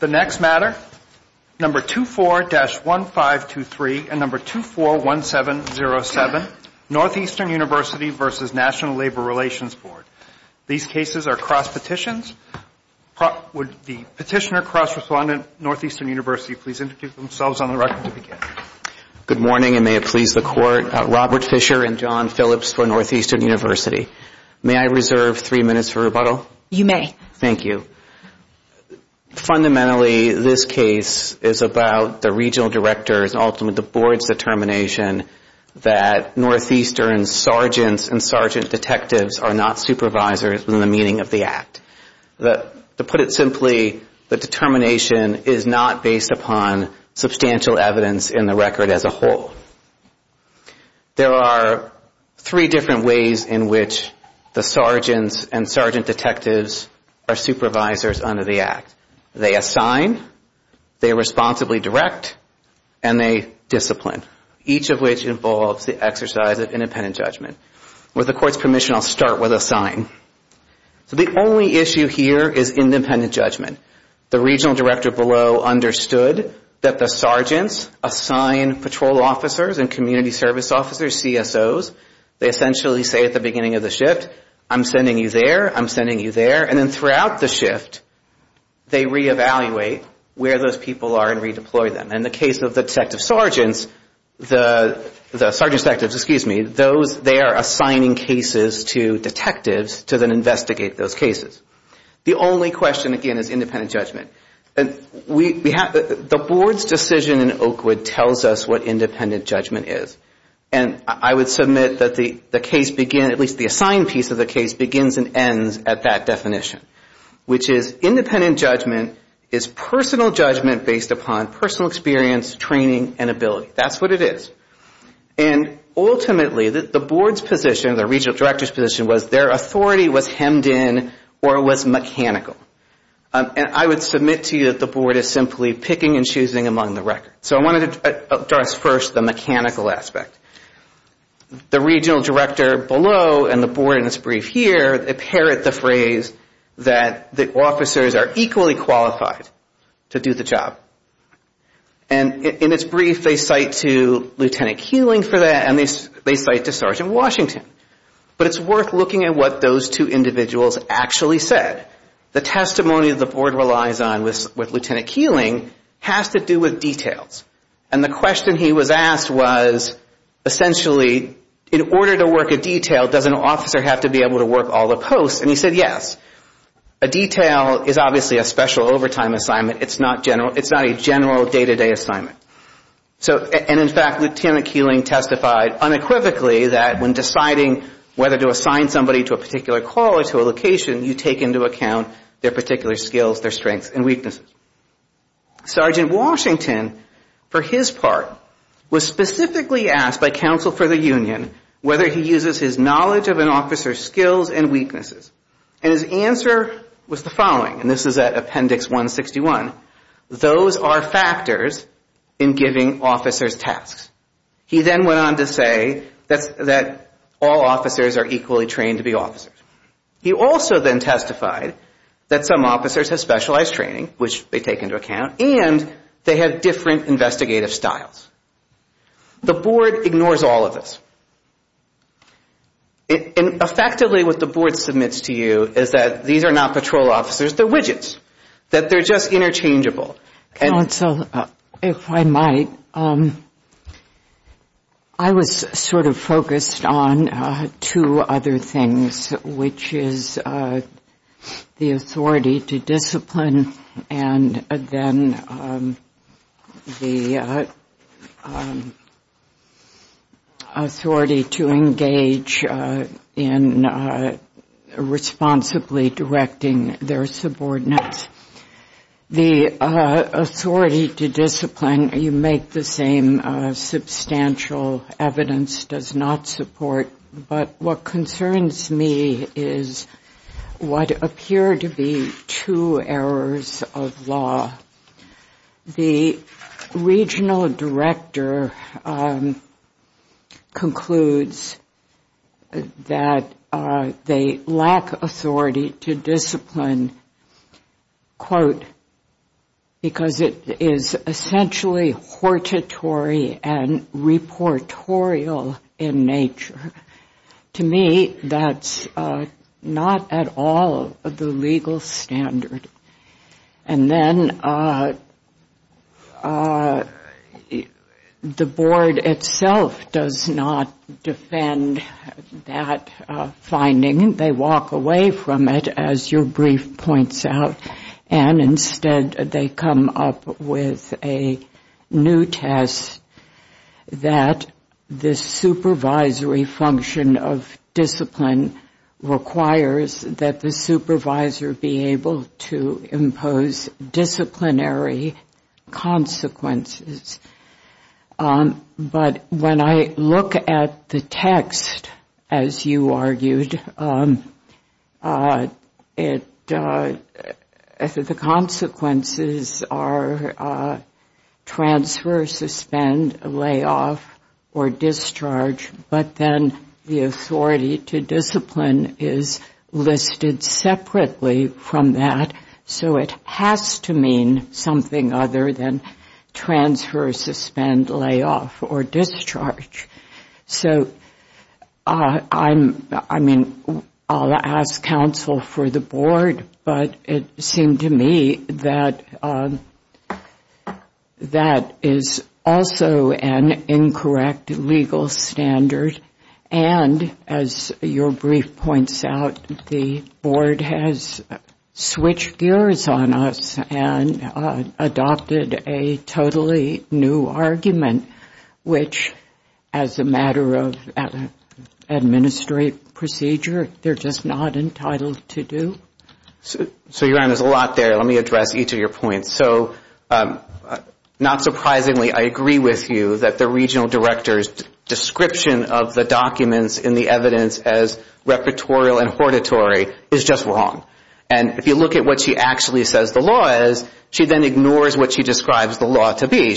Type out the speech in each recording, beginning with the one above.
The next matter, No. 24-1523 and No. 241707, Northeastern University v. National Labor Relations Board. These cases are cross-petitions. Would the petitioner cross-respondent, Northeastern University, please introduce themselves on the record to begin. Good morning, and may it please the Court, Robert Fisher and John Phillips for Northeastern University. May I reserve three minutes for rebuttal? You may. Thank you. Fundamentally, this case is about the Regional Director's, ultimately the Board's, determination that Northeastern's sergeants and sergeant detectives are not supervisors in the meaning of the Act. To put it simply, the determination is not based upon substantial evidence in the record as a whole. There are three different ways in which the sergeants and sergeant detectives are supervisors under the Act. They assign, they are responsibly direct, and they discipline, each of which involves the exercise of independent judgment. With the Court's permission, I'll start with assign. The only issue here is independent judgment. The Regional Director below understood that the sergeants assign patrol officers and community service officers, CSOs. They essentially say at the beginning of the shift, I'm sending you there, I'm sending you there. And then throughout the shift, they reevaluate where those people are and redeploy them. In the case of the detective sergeants, the sergeant detectives, excuse me, they are assigning cases to detectives to then investigate those cases. The only question, again, is independent judgment. The Board's decision in Oakwood tells us what independent judgment is. And I would submit that the case, at least the assigned piece of the case, begins and ends at that definition, which is independent judgment is personal judgment based upon personal experience, training, and ability. That's what it is. And ultimately, the Board's position, the Regional Director's position, was their authority was hemmed in or was mechanical. And I would submit to you that the Board is simply picking and choosing among the record. So I wanted to address first the mechanical aspect. The Regional Director below and the Board in this brief here, they parrot the phrase that the officers are equally qualified to do the job. And in its brief, they cite to Lieutenant Keeling for that and they cite to Sergeant Washington. But it's worth looking at what those two individuals actually said. The testimony that the Board relies on with Lieutenant Keeling has to do with details. And the question he was asked was, essentially, in order to work a detail, does an officer have to be able to work all the posts? And he said, yes. A detail is obviously a special overtime assignment. It's not a general day-to-day assignment. And in fact, Lieutenant Keeling testified unequivocally that when deciding whether to assign somebody to a particular call or to a location, you take into account their particular skills, their strengths, and weaknesses. Sergeant Washington, for his part, was specifically asked by counsel for the union whether he uses his knowledge of an officer's skills and weaknesses. And his answer was the following, and this is at Appendix 161. Those are factors in giving officers tasks. He then went on to say that all officers are equally trained to be officers. He also then testified that some officers have specialized training, which they take into account, and they have different investigative styles. The Board ignores all of this. Effectively, what the Board submits to you is that these are not patrol officers. They're widgets, that they're just interchangeable. Counsel, if I might, I was sort of focused on two other things, which is the authority to discipline and then the authority to engage in responsibly directing their subordinates. The authority to discipline, you make the same substantial evidence, does not support. But what concerns me is what appear to be two errors of law. The regional director concludes that they lack authority to discipline, quote, because it is essentially hortatory and reportorial in nature. To me, that's not at all the legal standard. And then the Board itself does not defend that finding. They walk away from it, as your brief points out, and instead they come up with a new test that the supervisory function of discipline requires that the supervisor be able to impose disciplinary consequences. But when I look at the text, as you argued, the consequences are transfer, suspend, layoff, or discharge. But then the authority to discipline is listed separately from that. So it has to mean something other than transfer, suspend, layoff, or discharge. So I mean, I'll ask counsel for the Board, but it seemed to me that that is also an incorrect legal standard. And as your brief points out, the Board has switched gears on us and adopted a totally new argument, which as a matter of administrative procedure, they're just not entitled to do. So, Your Honor, there's a lot there. Let me address each of your points. So not surprisingly, I agree with you that the regional director's description of the documents in the evidence as repertorial and hortatory is just wrong. And if you look at what she actually says the law is, she then ignores what she describes the law to be.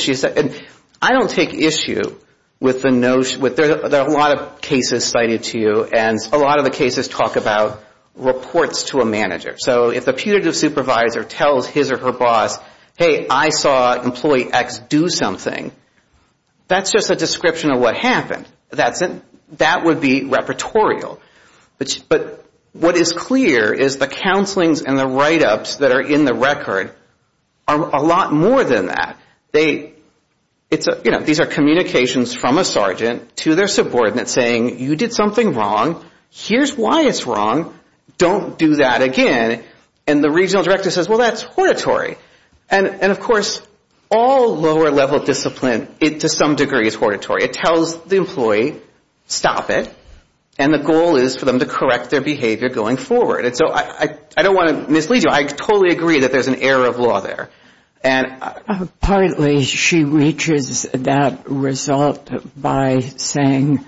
I don't take issue with the notion, there are a lot of cases cited to you, and a lot of the cases talk about reports to a manager. So if the putative supervisor tells his or her boss, hey, I saw employee X do something, that's just a description of what happened. That would be repertorial. But what is clear is the counselings and the write-ups that are in the record are a lot more than that. These are communications from a sergeant to their subordinate saying, you did something wrong, here's why it's wrong, don't do that again. And the regional director says, well, that's hortatory. And, of course, all lower level discipline to some degree is hortatory. It tells the employee, stop it, and the goal is for them to correct their behavior going forward. So I don't want to mislead you. I totally agree that there's an error of law there. And partly she reaches that result by saying,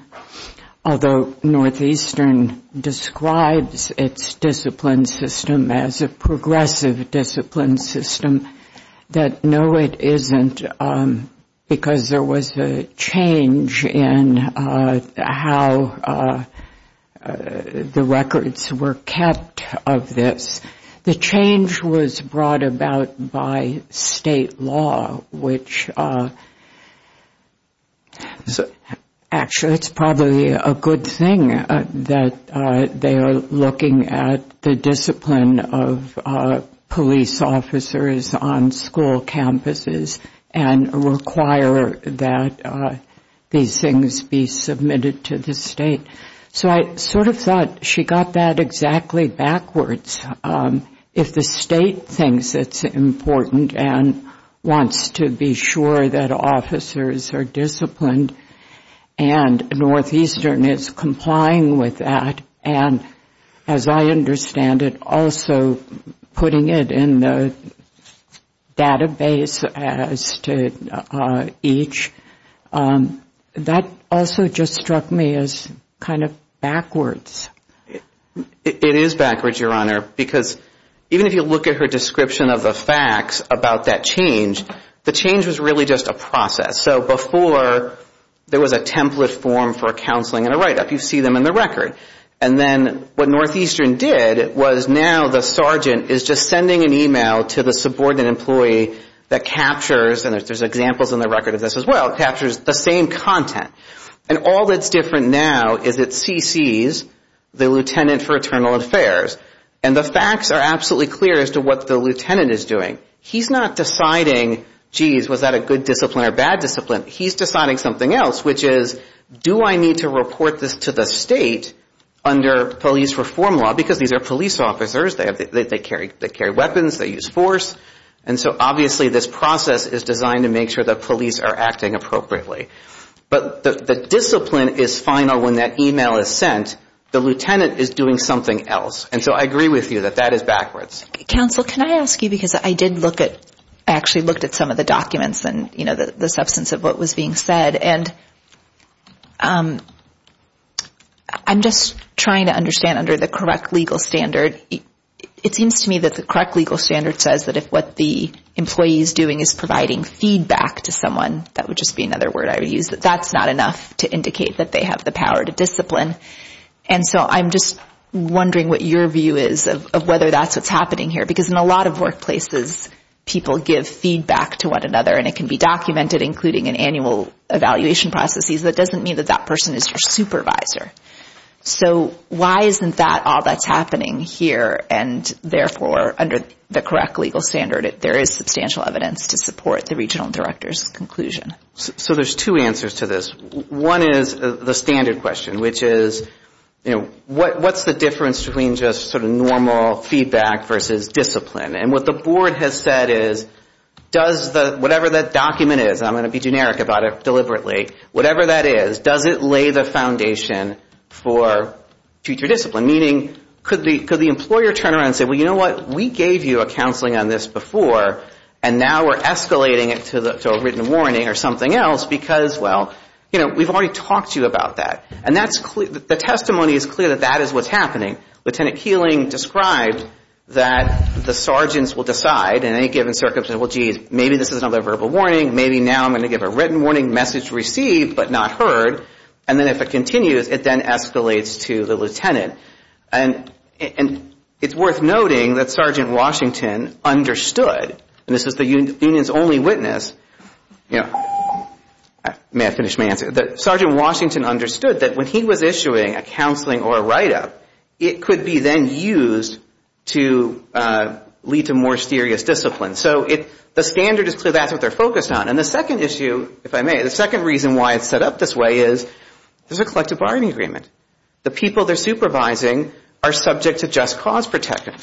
although Northeastern describes its discipline system as a progressive discipline system, that no, it isn't, because there was a change in how the records were kept of this. The change was brought about by state law, which actually it's probably a good thing that they are looking at the discipline of police officers on school campuses and require that these things be submitted to the state. So I sort of thought she got that exactly backwards. If the state thinks it's important and wants to be sure that officers are disciplined, and Northeastern is complying with that, and as I understand it, also putting it in the database as to each, that also just struck me as kind of odd. It is backwards, Your Honor, because even if you look at her description of the facts about that change, the change was really just a process. So before there was a template form for counseling and a write-up. You see them in the record. And then what Northeastern did was now the sergeant is just sending an email to the subordinate employee that captures, and there's examples in the record of this as well, captures the same content. And all that's different now is it CCs the lieutenant for internal affairs. And the facts are absolutely clear as to what the lieutenant is doing. He's not deciding, geez, was that a good discipline or a bad discipline? He's deciding something else, which is, do I need to report this to the state under police reform law? Because these are police officers. They carry weapons. They use force. And so obviously this process is designed to make sure the police are acting appropriately. But the discipline is final when that email is sent. The lieutenant is doing something else. And so I agree with you that that is backwards. Counsel, can I ask you, because I did look at, I actually looked at some of the documents and the substance of what was being said. And I'm just trying to understand under the correct legal standard, it seems to me that the correct legal standard says that if what the employee is doing is providing feedback to someone, that would just be another word I would use, that that's not enough to indicate that they have the power to discipline. And so I'm just wondering what your view is of whether that's what's happening here. Because in a lot of workplaces, people give feedback to one another, and it can be documented, including in annual evaluation processes. That doesn't mean that that person is your supervisor. So why isn't that all that's happening here, and therefore under the correct legal standard, there is substantial evidence to support the regional director's conclusion? So there's two answers to this. One is the standard question, which is, you know, what's the difference between just sort of normal feedback versus discipline? And what the board has said is, does the, whatever that document is, I'm going to be generic about it deliberately, whatever that is, does it lay the foundation for future discipline? Meaning, could the employer turn around and say, well, you know what, we gave you a counseling on this before, and now we're escalating it to a written warning or something. Because, well, you know, we've already talked to you about that. And the testimony is clear that that is what's happening. Lieutenant Keeling described that the sergeants will decide in any given circumstance, well, geez, maybe this is another verbal warning, maybe now I'm going to give a written warning, message received but not heard. And then if it continues, it then escalates to the lieutenant. And it's worth noting that Sergeant Washington understood, and this is the union's only witness, you know, may I finish my answer? Sergeant Washington understood that when he was issuing a counseling or a write-up, it could be then used to lead to more serious discipline. So the standard is clear, that's what they're focused on. And the second issue, if I may, the second reason why it's set up this way is there's a collective bargaining agreement. The people they're supervising are subject to just cause protection.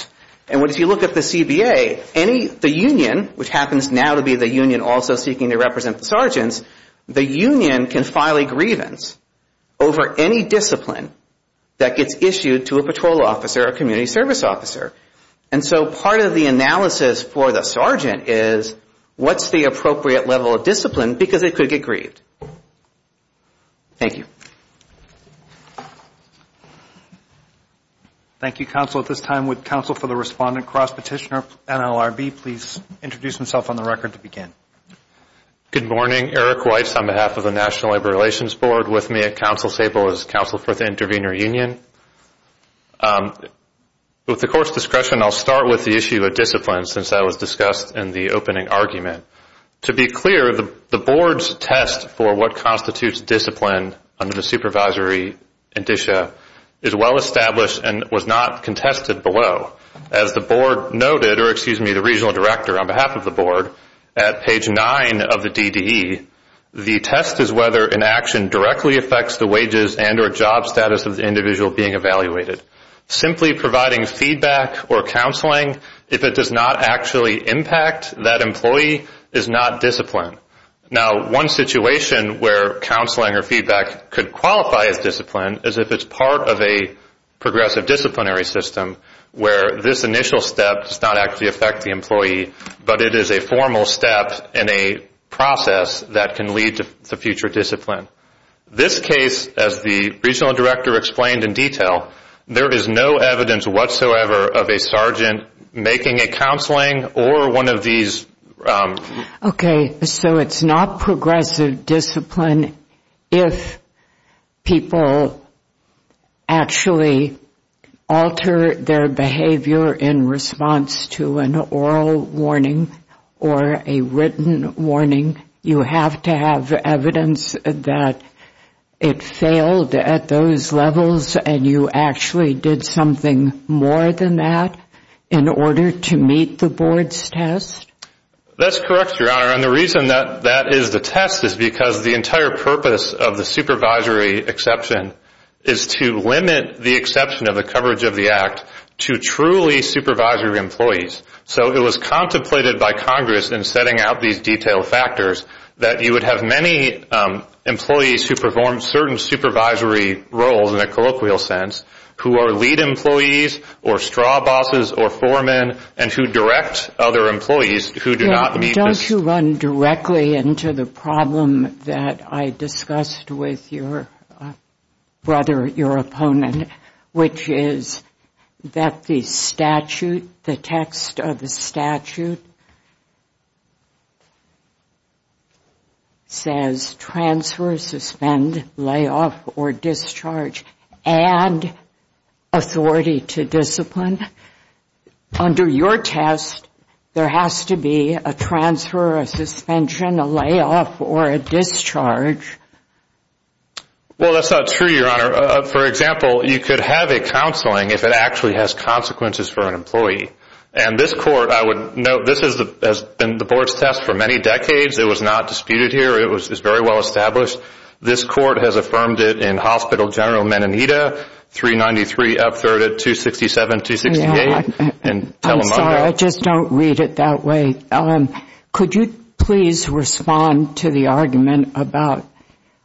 And if you look at the CBA, the union, which happens now to be the union also seeking to represent the sergeants, the union can file a grievance over any discipline that gets issued to a patrol officer or community service officer. And so part of the analysis for the sergeant is what's the appropriate level of discipline because it could get grieved. Thank you. Thank you, Counsel. At this time, would Counsel for the Respondent, Cross Petitioner, NLRB, please introduce himself on the record to begin. Good morning. Eric Weitz on behalf of the National Labor Relations Board with me at Counsel Sable as Counsel for the Intervenor Union. With the Court's discretion, I'll start with the issue of discipline since that was discussed in the opening argument. To be clear, the Board's test for what constitutes discipline under the supervisory indicia is well established and was not contested below. As the Board noted, or excuse me, the Regional Director on behalf of the Board, at page 9 of the DDE, the test is whether an action directly affects the wages and or job status of the individual being evaluated. Simply providing feedback or counseling, if it does not actually impact that employee, is not discipline. Now, one situation where counseling or feedback could qualify as discipline is if it's part of a progressive disciplinary system where this initial step does not actually affect the employee, but it is a formal step in a process that can lead to future discipline. This case, as the Regional Director explained in detail, there is no evidence whatsoever of a sergeant making a counseling or one of these. Okay. So it's not progressive discipline if people actually alter their behavior in response to an oral warning. Or a written warning. You have to have evidence that it failed at those levels and you actually did something more than that in order to meet the Board's test? That's correct, Your Honor. And the reason that that is the test is because the entire purpose of the supervisory exception is to limit the exception of the coverage of the act to truly supervisory employees. So it was contemplated by Congress in setting out these detailed factors that you would have many employees who perform certain supervisory roles in a colloquial sense, who are lead employees or straw bosses or foremen, and who direct other employees who do not meet the... Don't you run directly into the problem that I discussed with your brother, your opponent, which is that the statute, the text of the statute, does not say that an employee should be subject to supervision. The text of the statute says transfer, suspend, layoff, or discharge. Add authority to discipline. Under your test, there has to be a transfer, a suspension, a layoff, or a discharge. Well, that's not true, Your Honor. For example, you could have a counseling if it actually has consequences for an employee. And this Court, I would note, this has been the Board's test for many decades. It was not disputed here. It was very well established. This Court has affirmed it in Hospital General Menendita, 393 Up 3rd at 267-268. I'm sorry, I just don't read it that way. Could you please respond to the argument about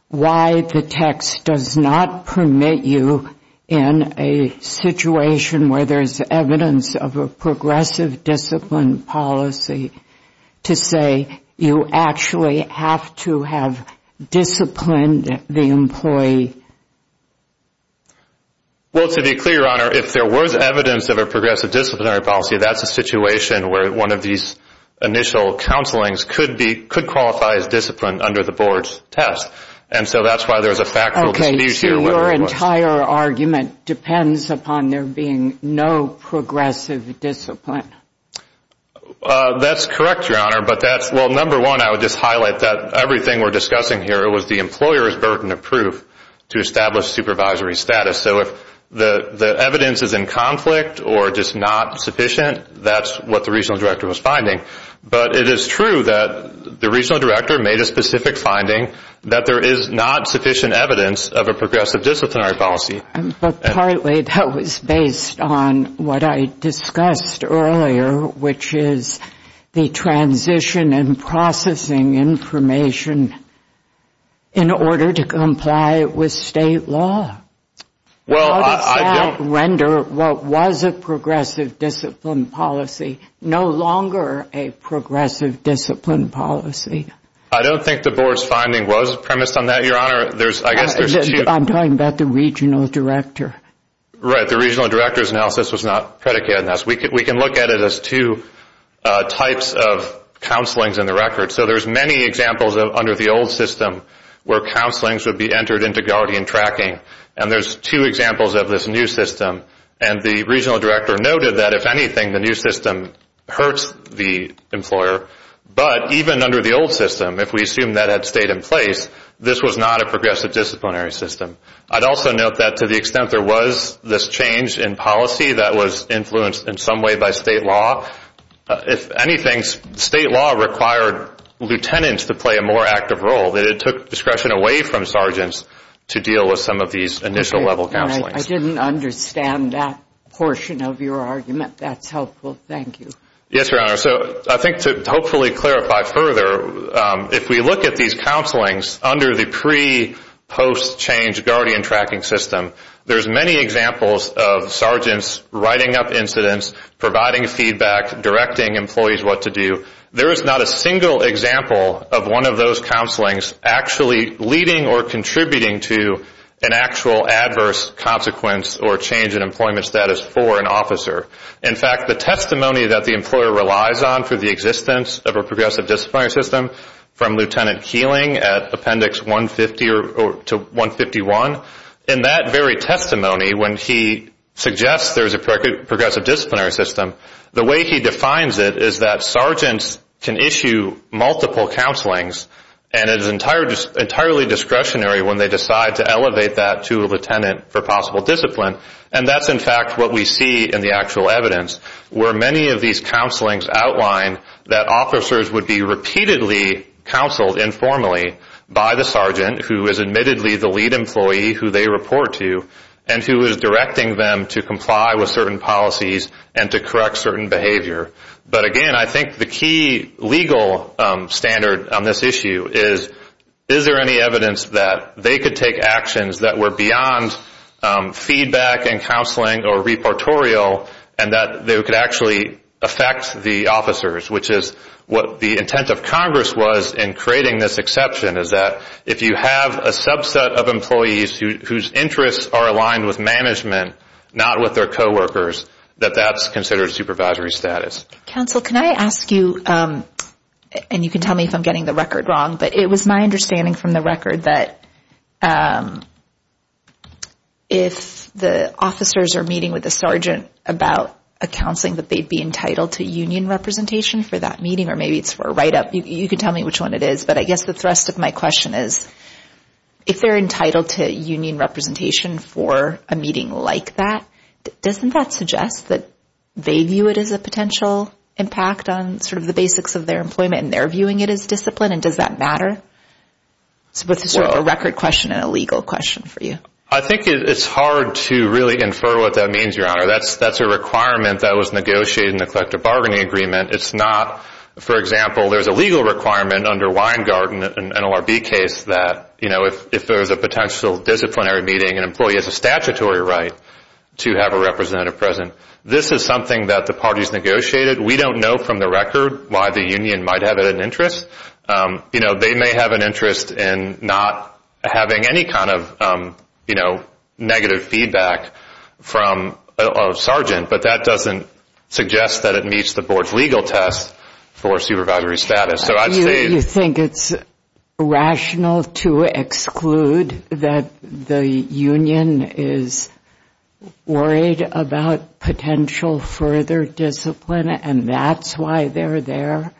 why the text does not permit you in a situation where there is evidence of a progressive discipline policy to say you actually have to have disciplined the employee? Well, to be clear, Your Honor, if there was evidence of a progressive disciplinary policy, that's a situation where one of these initial counselings could qualify as disciplined under the Board's test. And so that's why there's a factual dispute here. Okay. So your entire argument depends upon there being no progressive discipline? That's correct, Your Honor. But that's, well, number one, I would just highlight that everything we're discussing here, it was the employer's burden of proof. It was the employer's burden of proof to establish supervisory status. So if the evidence is in conflict or just not sufficient, that's what the Regional Director was finding. But it is true that the Regional Director made a specific finding that there is not sufficient evidence of a progressive disciplinary policy. But partly that was based on what I discussed earlier, which is the transition and processing information in order to comply with the Board's test. But it was state law. How does that render what was a progressive discipline policy no longer a progressive discipline policy? I don't think the Board's finding was premised on that, Your Honor. I'm talking about the Regional Director. Right. The Regional Director's analysis was not predicated on this. We can look at it as two types of counselings in the record. So there's many examples under the old system where counselings would be entered into guardian tracking. And there's two examples of this new system. And the Regional Director noted that, if anything, the new system hurts the employer. But even under the old system, if we assume that had stayed in place, this was not a progressive disciplinary system. I'd also note that to the extent there was this change in policy that was influenced in some way by state law, if anything, state law required lieutenants to play a more active role, that it took discretion away from sergeants to deal with some of these initial level counselings. I didn't understand that portion of your argument. That's helpful. Thank you. Yes, Your Honor. So I think to hopefully clarify further, if we look at these counselings under the pre-post-change guardian tracking system, there's many examples of sergeants writing up incidents, providing feedback, directing employees what to do. There is not a single example of one of those counselings actually leading or contributing to an actual adverse consequence or change in employment status for an officer. In fact, the testimony that the employer relies on for the existence of a progressive disciplinary system, from Lieutenant Keeling at Appendix 150 to 151, in that very testimony when he suggests there's a progressive disciplinary system, the way he defines it is that sergeants can issue multiple counselings, and it is entirely discretionary when they decide to elevate that to a lieutenant for possible discipline. And that's, in fact, what we see in the actual evidence, where many of these counselings outline that officers would be repeatedly counseled informally by the sergeant who is admittedly the lead employee who they report to and who is directing them to comply with certain policies and to correct certain behavior. But again, I think the key legal standard on this issue is, is there any evidence that they could take actions that were beyond feedback and counseling or reportorial and that they could actually affect the officers, which is what the intent of Congress was in creating this exception, is that if you have a subset of employees whose interests are aligned with management, not with their coworkers, that that's considered supervisory status. Counsel, can I ask you, and you can tell me if I'm getting the record wrong, but it was my understanding from the record that if the officers are meeting with the sergeant about a counseling that they'd be entitled to union representation for that meeting, or maybe it's for a write-up, you can tell me which one it is, but I guess the thrust of my question is, if they're entitled to union representation for a meeting like that, doesn't that suggest that they view it as a potential impact on sort of the basics of their employment and they're viewing it as discipline, and does that matter? It's sort of a record question and a legal question for you. I think it's hard to really infer what that means, Your Honor. That's a requirement that was negotiated in the collective bargaining agreement. It's not, for example, there's a legal requirement under Weingarten, an NLRB case, that if there's a potential disciplinary meeting, an employee has a right to union representation. This is something that the parties negotiated. We don't know from the record why the union might have an interest. They may have an interest in not having any kind of negative feedback from a sergeant, but that doesn't suggest that it meets the board's legal test for supervisory status. You think it's rational to exclude that the union is worried about potential further discipline, and that's why they're there,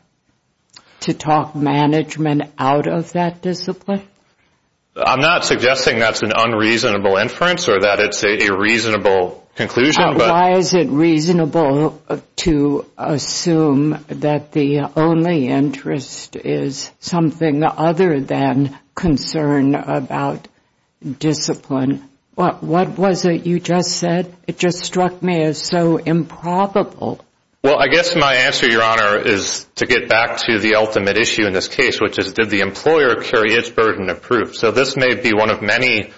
to talk management out of that discipline? I'm not suggesting that's an unreasonable inference or that it's a reasonable conclusion. Why is it reasonable to assume that the only interest is something other than concern about discipline? What was it you just said? It just struck me as so improbable. Well, I guess my answer, Your Honor, is to get back to the ultimate issue in this case, which is did the employer carry its burden of proof. So this may be one of many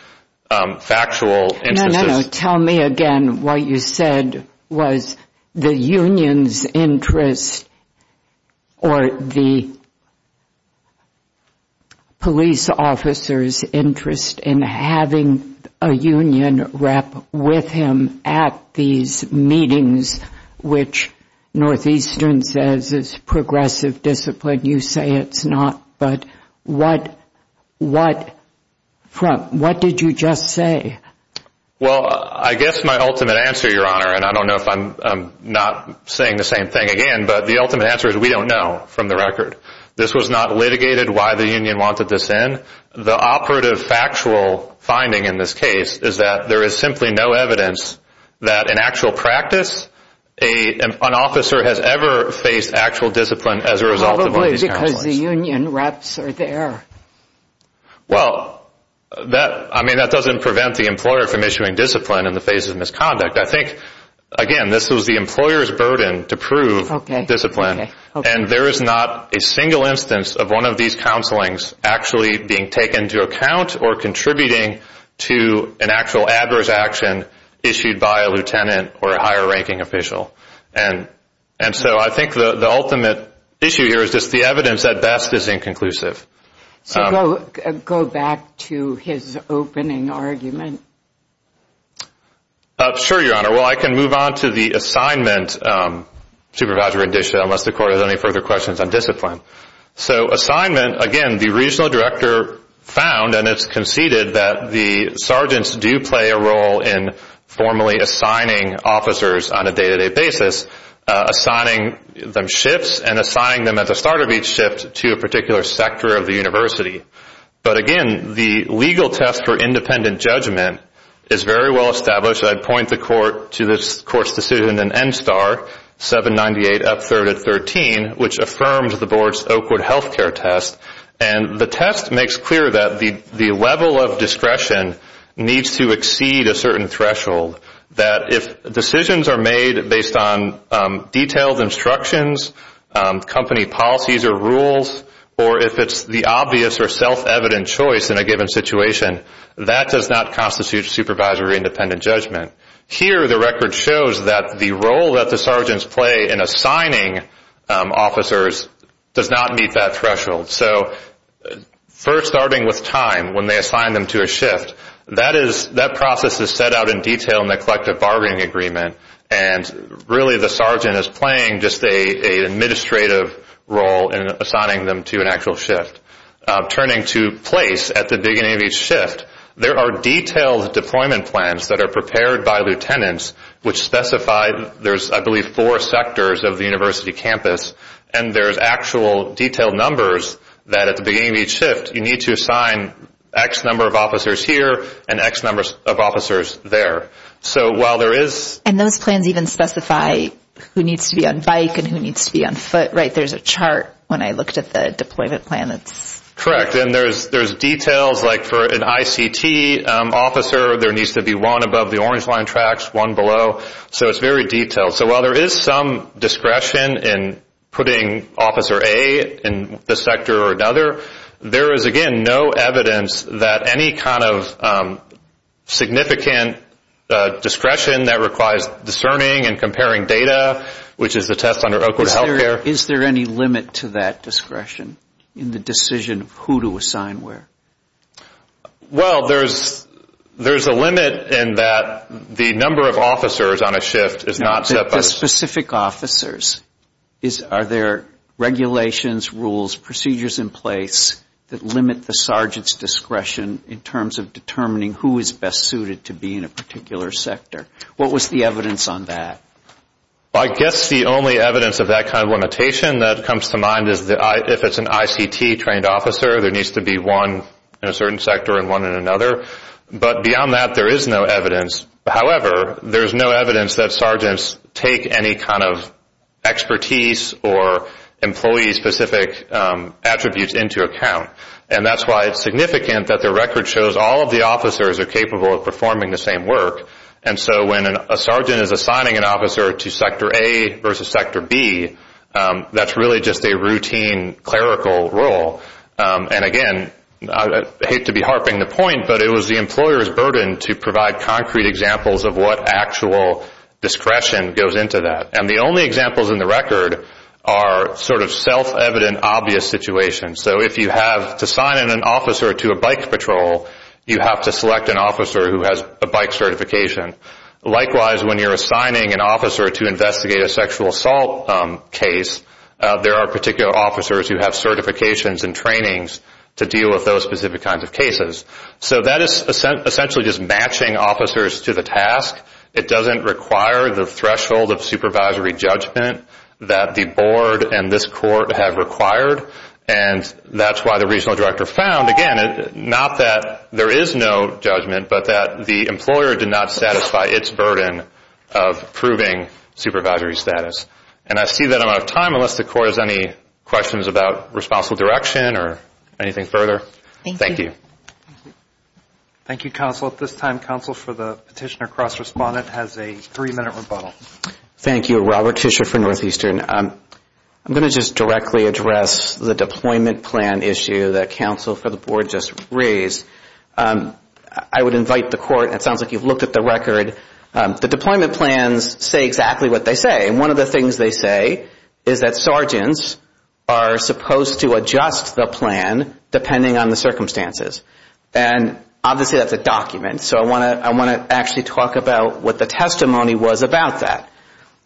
factual instances. No, no. Tell me again what you said was the union's interest or the police officer's interest in having a union rep with him at these meetings, which Northeastern says is progressive discipline. You say it's not. But what did you just say? Well, I guess my ultimate answer, Your Honor, and I don't know if I'm not saying the same thing again, but the ultimate answer is we don't know from the record. This was not litigated why the union wanted this in. The operative factual finding in this case is that there is simply no evidence that in actual practice an officer has ever faced actual discipline as a result of one of these counselors. Because the union reps are there. Well, I mean, that doesn't prevent the employer from issuing discipline in the face of misconduct. I think, again, this was the employer's burden to prove discipline. And there is not a single instance of one of these counselings actually being taken into account or contributing to an actual adverse action issued by a lieutenant or a higher ranking official. And so I think the ultimate issue here is just the evidence at best is inconclusive. So go back to his opening argument. Sure, Your Honor. Well, I can move on to the assignment, Supervisor Rendicia, unless the Court has any further questions on discipline. So assignment, again, the regional director found and it's conceded that the sergeants do play a role in formally assigning officers on a day-to-day basis. Assigning them shifts and assigning them at the start of each shift to a particular sector of the university. But, again, the legal test for independent judgment is very well established. I'd point the Court to this Court's decision in NSTAR 798 up 3rd at 13, which affirms the Board's Oakwood health care test. And the test makes clear that the level of discretion needs to exceed a certain threshold. That if decisions are made based on detailed instructions, company policies or rules, or if it's the obvious or self-evident choice in a given situation, that does not constitute supervisory independent judgment. Here the record shows that the role that the sergeants play in assigning officers does not meet that threshold. So first starting with time when they assign them to a shift, that process is set out in detail in NSTAR 798. It's in the collective bargaining agreement and really the sergeant is playing just an administrative role in assigning them to an actual shift. Turning to place at the beginning of each shift, there are detailed deployment plans that are prepared by lieutenants, which specify there's, I believe, four sectors of the university campus and there's actual detailed numbers that at the beginning of each shift you need to assign X number of officers here and X number of officers there. And those plans even specify who needs to be on bike and who needs to be on foot, right? There's a chart when I looked at the deployment plan. Correct. And there's details like for an ICT officer, there needs to be one above the orange line tracks, one below. So it's very detailed. So while there is some discretion in putting officer A in the sector or another, there is, again, no evidence that any kind of significant discretion that requires discerning and comparing data, which is the test under Oakwood Health Care. Is there any limit to that discretion in the decision of who to assign where? Well, there's a limit in that the number of officers on a shift is not set by... Specific officers. Are there regulations, rules, procedures in place that limit the sergeant's discretion in terms of determining who is best suited to be in a particular sector? What was the evidence on that? Well, I guess the only evidence of that kind of limitation that comes to mind is if it's an ICT trained officer, there needs to be one in a certain sector and one in another. But beyond that, there is no evidence. However, there's no evidence that sergeants take any kind of expertise or employee-specific attributes into account. And that's why it's significant that the record shows all of the officers are capable of performing the same work. And so when a sergeant is assigning an officer to sector A versus sector B, that's really just a routine clerical role. And again, I hate to be harping the point, but it was the employer's burden to provide concrete examples of what actual discretion goes into that. And the only examples in the record are sort of self-evident, obvious situations. So if you have to assign an officer to a bike patrol, you have to select an officer who has a bike certification. Likewise, when you're assigning an officer to investigate a sexual assault case, there are particular officers who have certifications and trainings to deal with those specific kinds of cases. So that is essentially just matching officers to the task. It doesn't require the threshold of supervisory judgment that the board and this court have required. And that's why the regional director found, again, not that there is no judgment, but that the employer did not satisfy its burden of proving supervisory status. And I see that I'm out of time unless the court has any questions about responsible direction or anything further. Thank you. Thank you, counsel. At this time, counsel for the petitioner cross-respondent has a three-minute rebuttal. Thank you. Robert Tischer for Northeastern. I'm going to just directly address the deployment plan issue that counsel for the board just raised. I would invite the court, it sounds like you've looked at the record, the deployment plans say exactly what they say. And one of the things they say is that sergeants are supposed to adjust the plan depending on the circumstances. And obviously that's a document, so I want to actually talk about what the testimony was about that,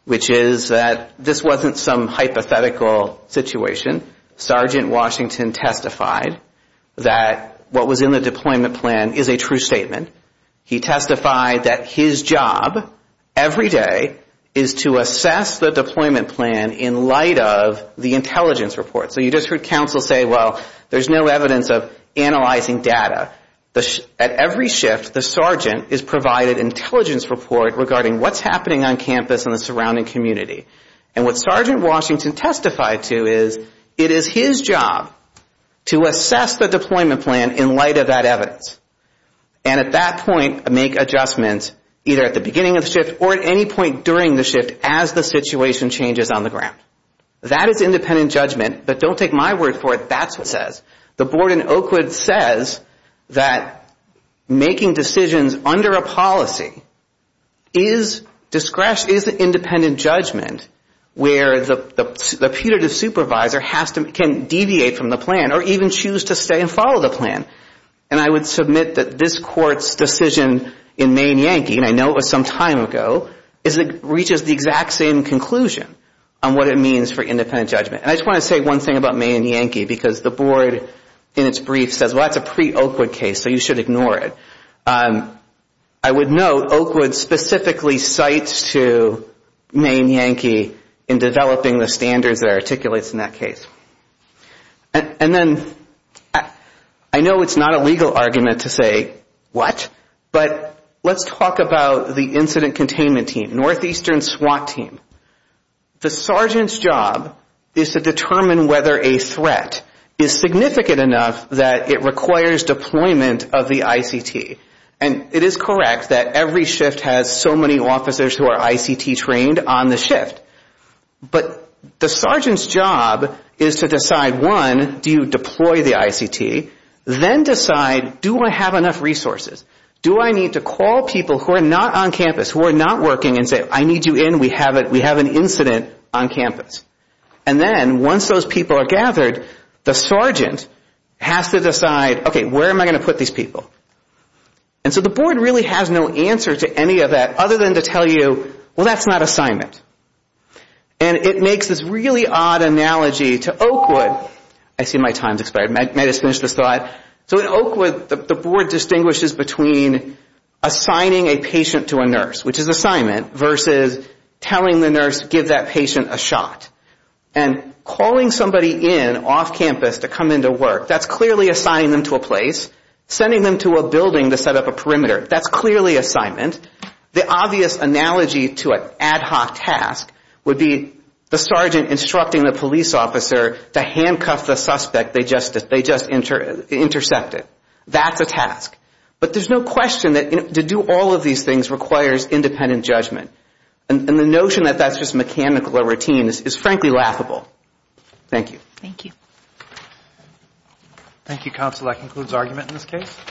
which is that this wasn't some hypothetical situation. Sergeant Washington testified that what was in the deployment plan is a true statement. He testified that his job every day is to assess the deployment plan in light of the intelligence report. So you just heard counsel say, well, there's no evidence of analyzing data. At every shift, the sergeant is provided intelligence report regarding what's happening on campus and the surrounding community. And what Sergeant Washington testified to is it is his job to assess the deployment plan in light of that evidence. And at that point, make adjustments either at the beginning of the shift or at any point during the shift as the situation changes on the ground. That is independent judgment, but don't take my word for it, that's what it says. The board in Oakwood says that making decisions under a policy is independent judgment, where the putative supervisor can deviate from the plan or even choose to stay and follow the plan. And I would submit that this court's decision in May and Yankee, and I know it was some time ago, is it reaches the exact same conclusion on what it means for independent judgment. And I just want to say one thing about May and Yankee, because the board in its brief says, well, that's a pre-Oakwood case, so you should ignore it. I would note Oakwood specifically cites to May and Yankee in developing the standards that are articulated in that case. And then I know it's not a legal argument to say, what? But let's talk about the incident containment team, northeastern SWAT team. The sergeant's job is to determine whether a threat is significant enough that it requires deployment of the ICT. And it is correct that every shift has so many officers who are ICT trained on the shift. But the sergeant's job is to decide, one, do you deploy the ICT, then decide, do I have enough resources? Do I need to call people who are not on campus, who are not working and say, I need you in, we have an incident on campus? And then once those people are gathered, the sergeant has to decide, okay, where am I going to put these people? And so the board really has no answer to any of that other than to tell you, well, that's not assignment. And it makes this really odd analogy to Oakwood. I see my time's expired. May I just finish this thought? So in Oakwood, the board distinguishes between assigning a patient to a nurse, which is assignment, versus telling the nurse, give that patient a shot. And calling somebody in off campus to come into work, that's clearly assigning them to a place. Sending them to a building to set up a perimeter, that's clearly assignment. The obvious analogy to an ad hoc task would be the sergeant instructing the police officer to handcuff the suspect they just intercepted. That's a task. But there's no question that to do all of these things requires independent judgment. And the notion that that's just mechanical or routine is frankly laughable. Thank you.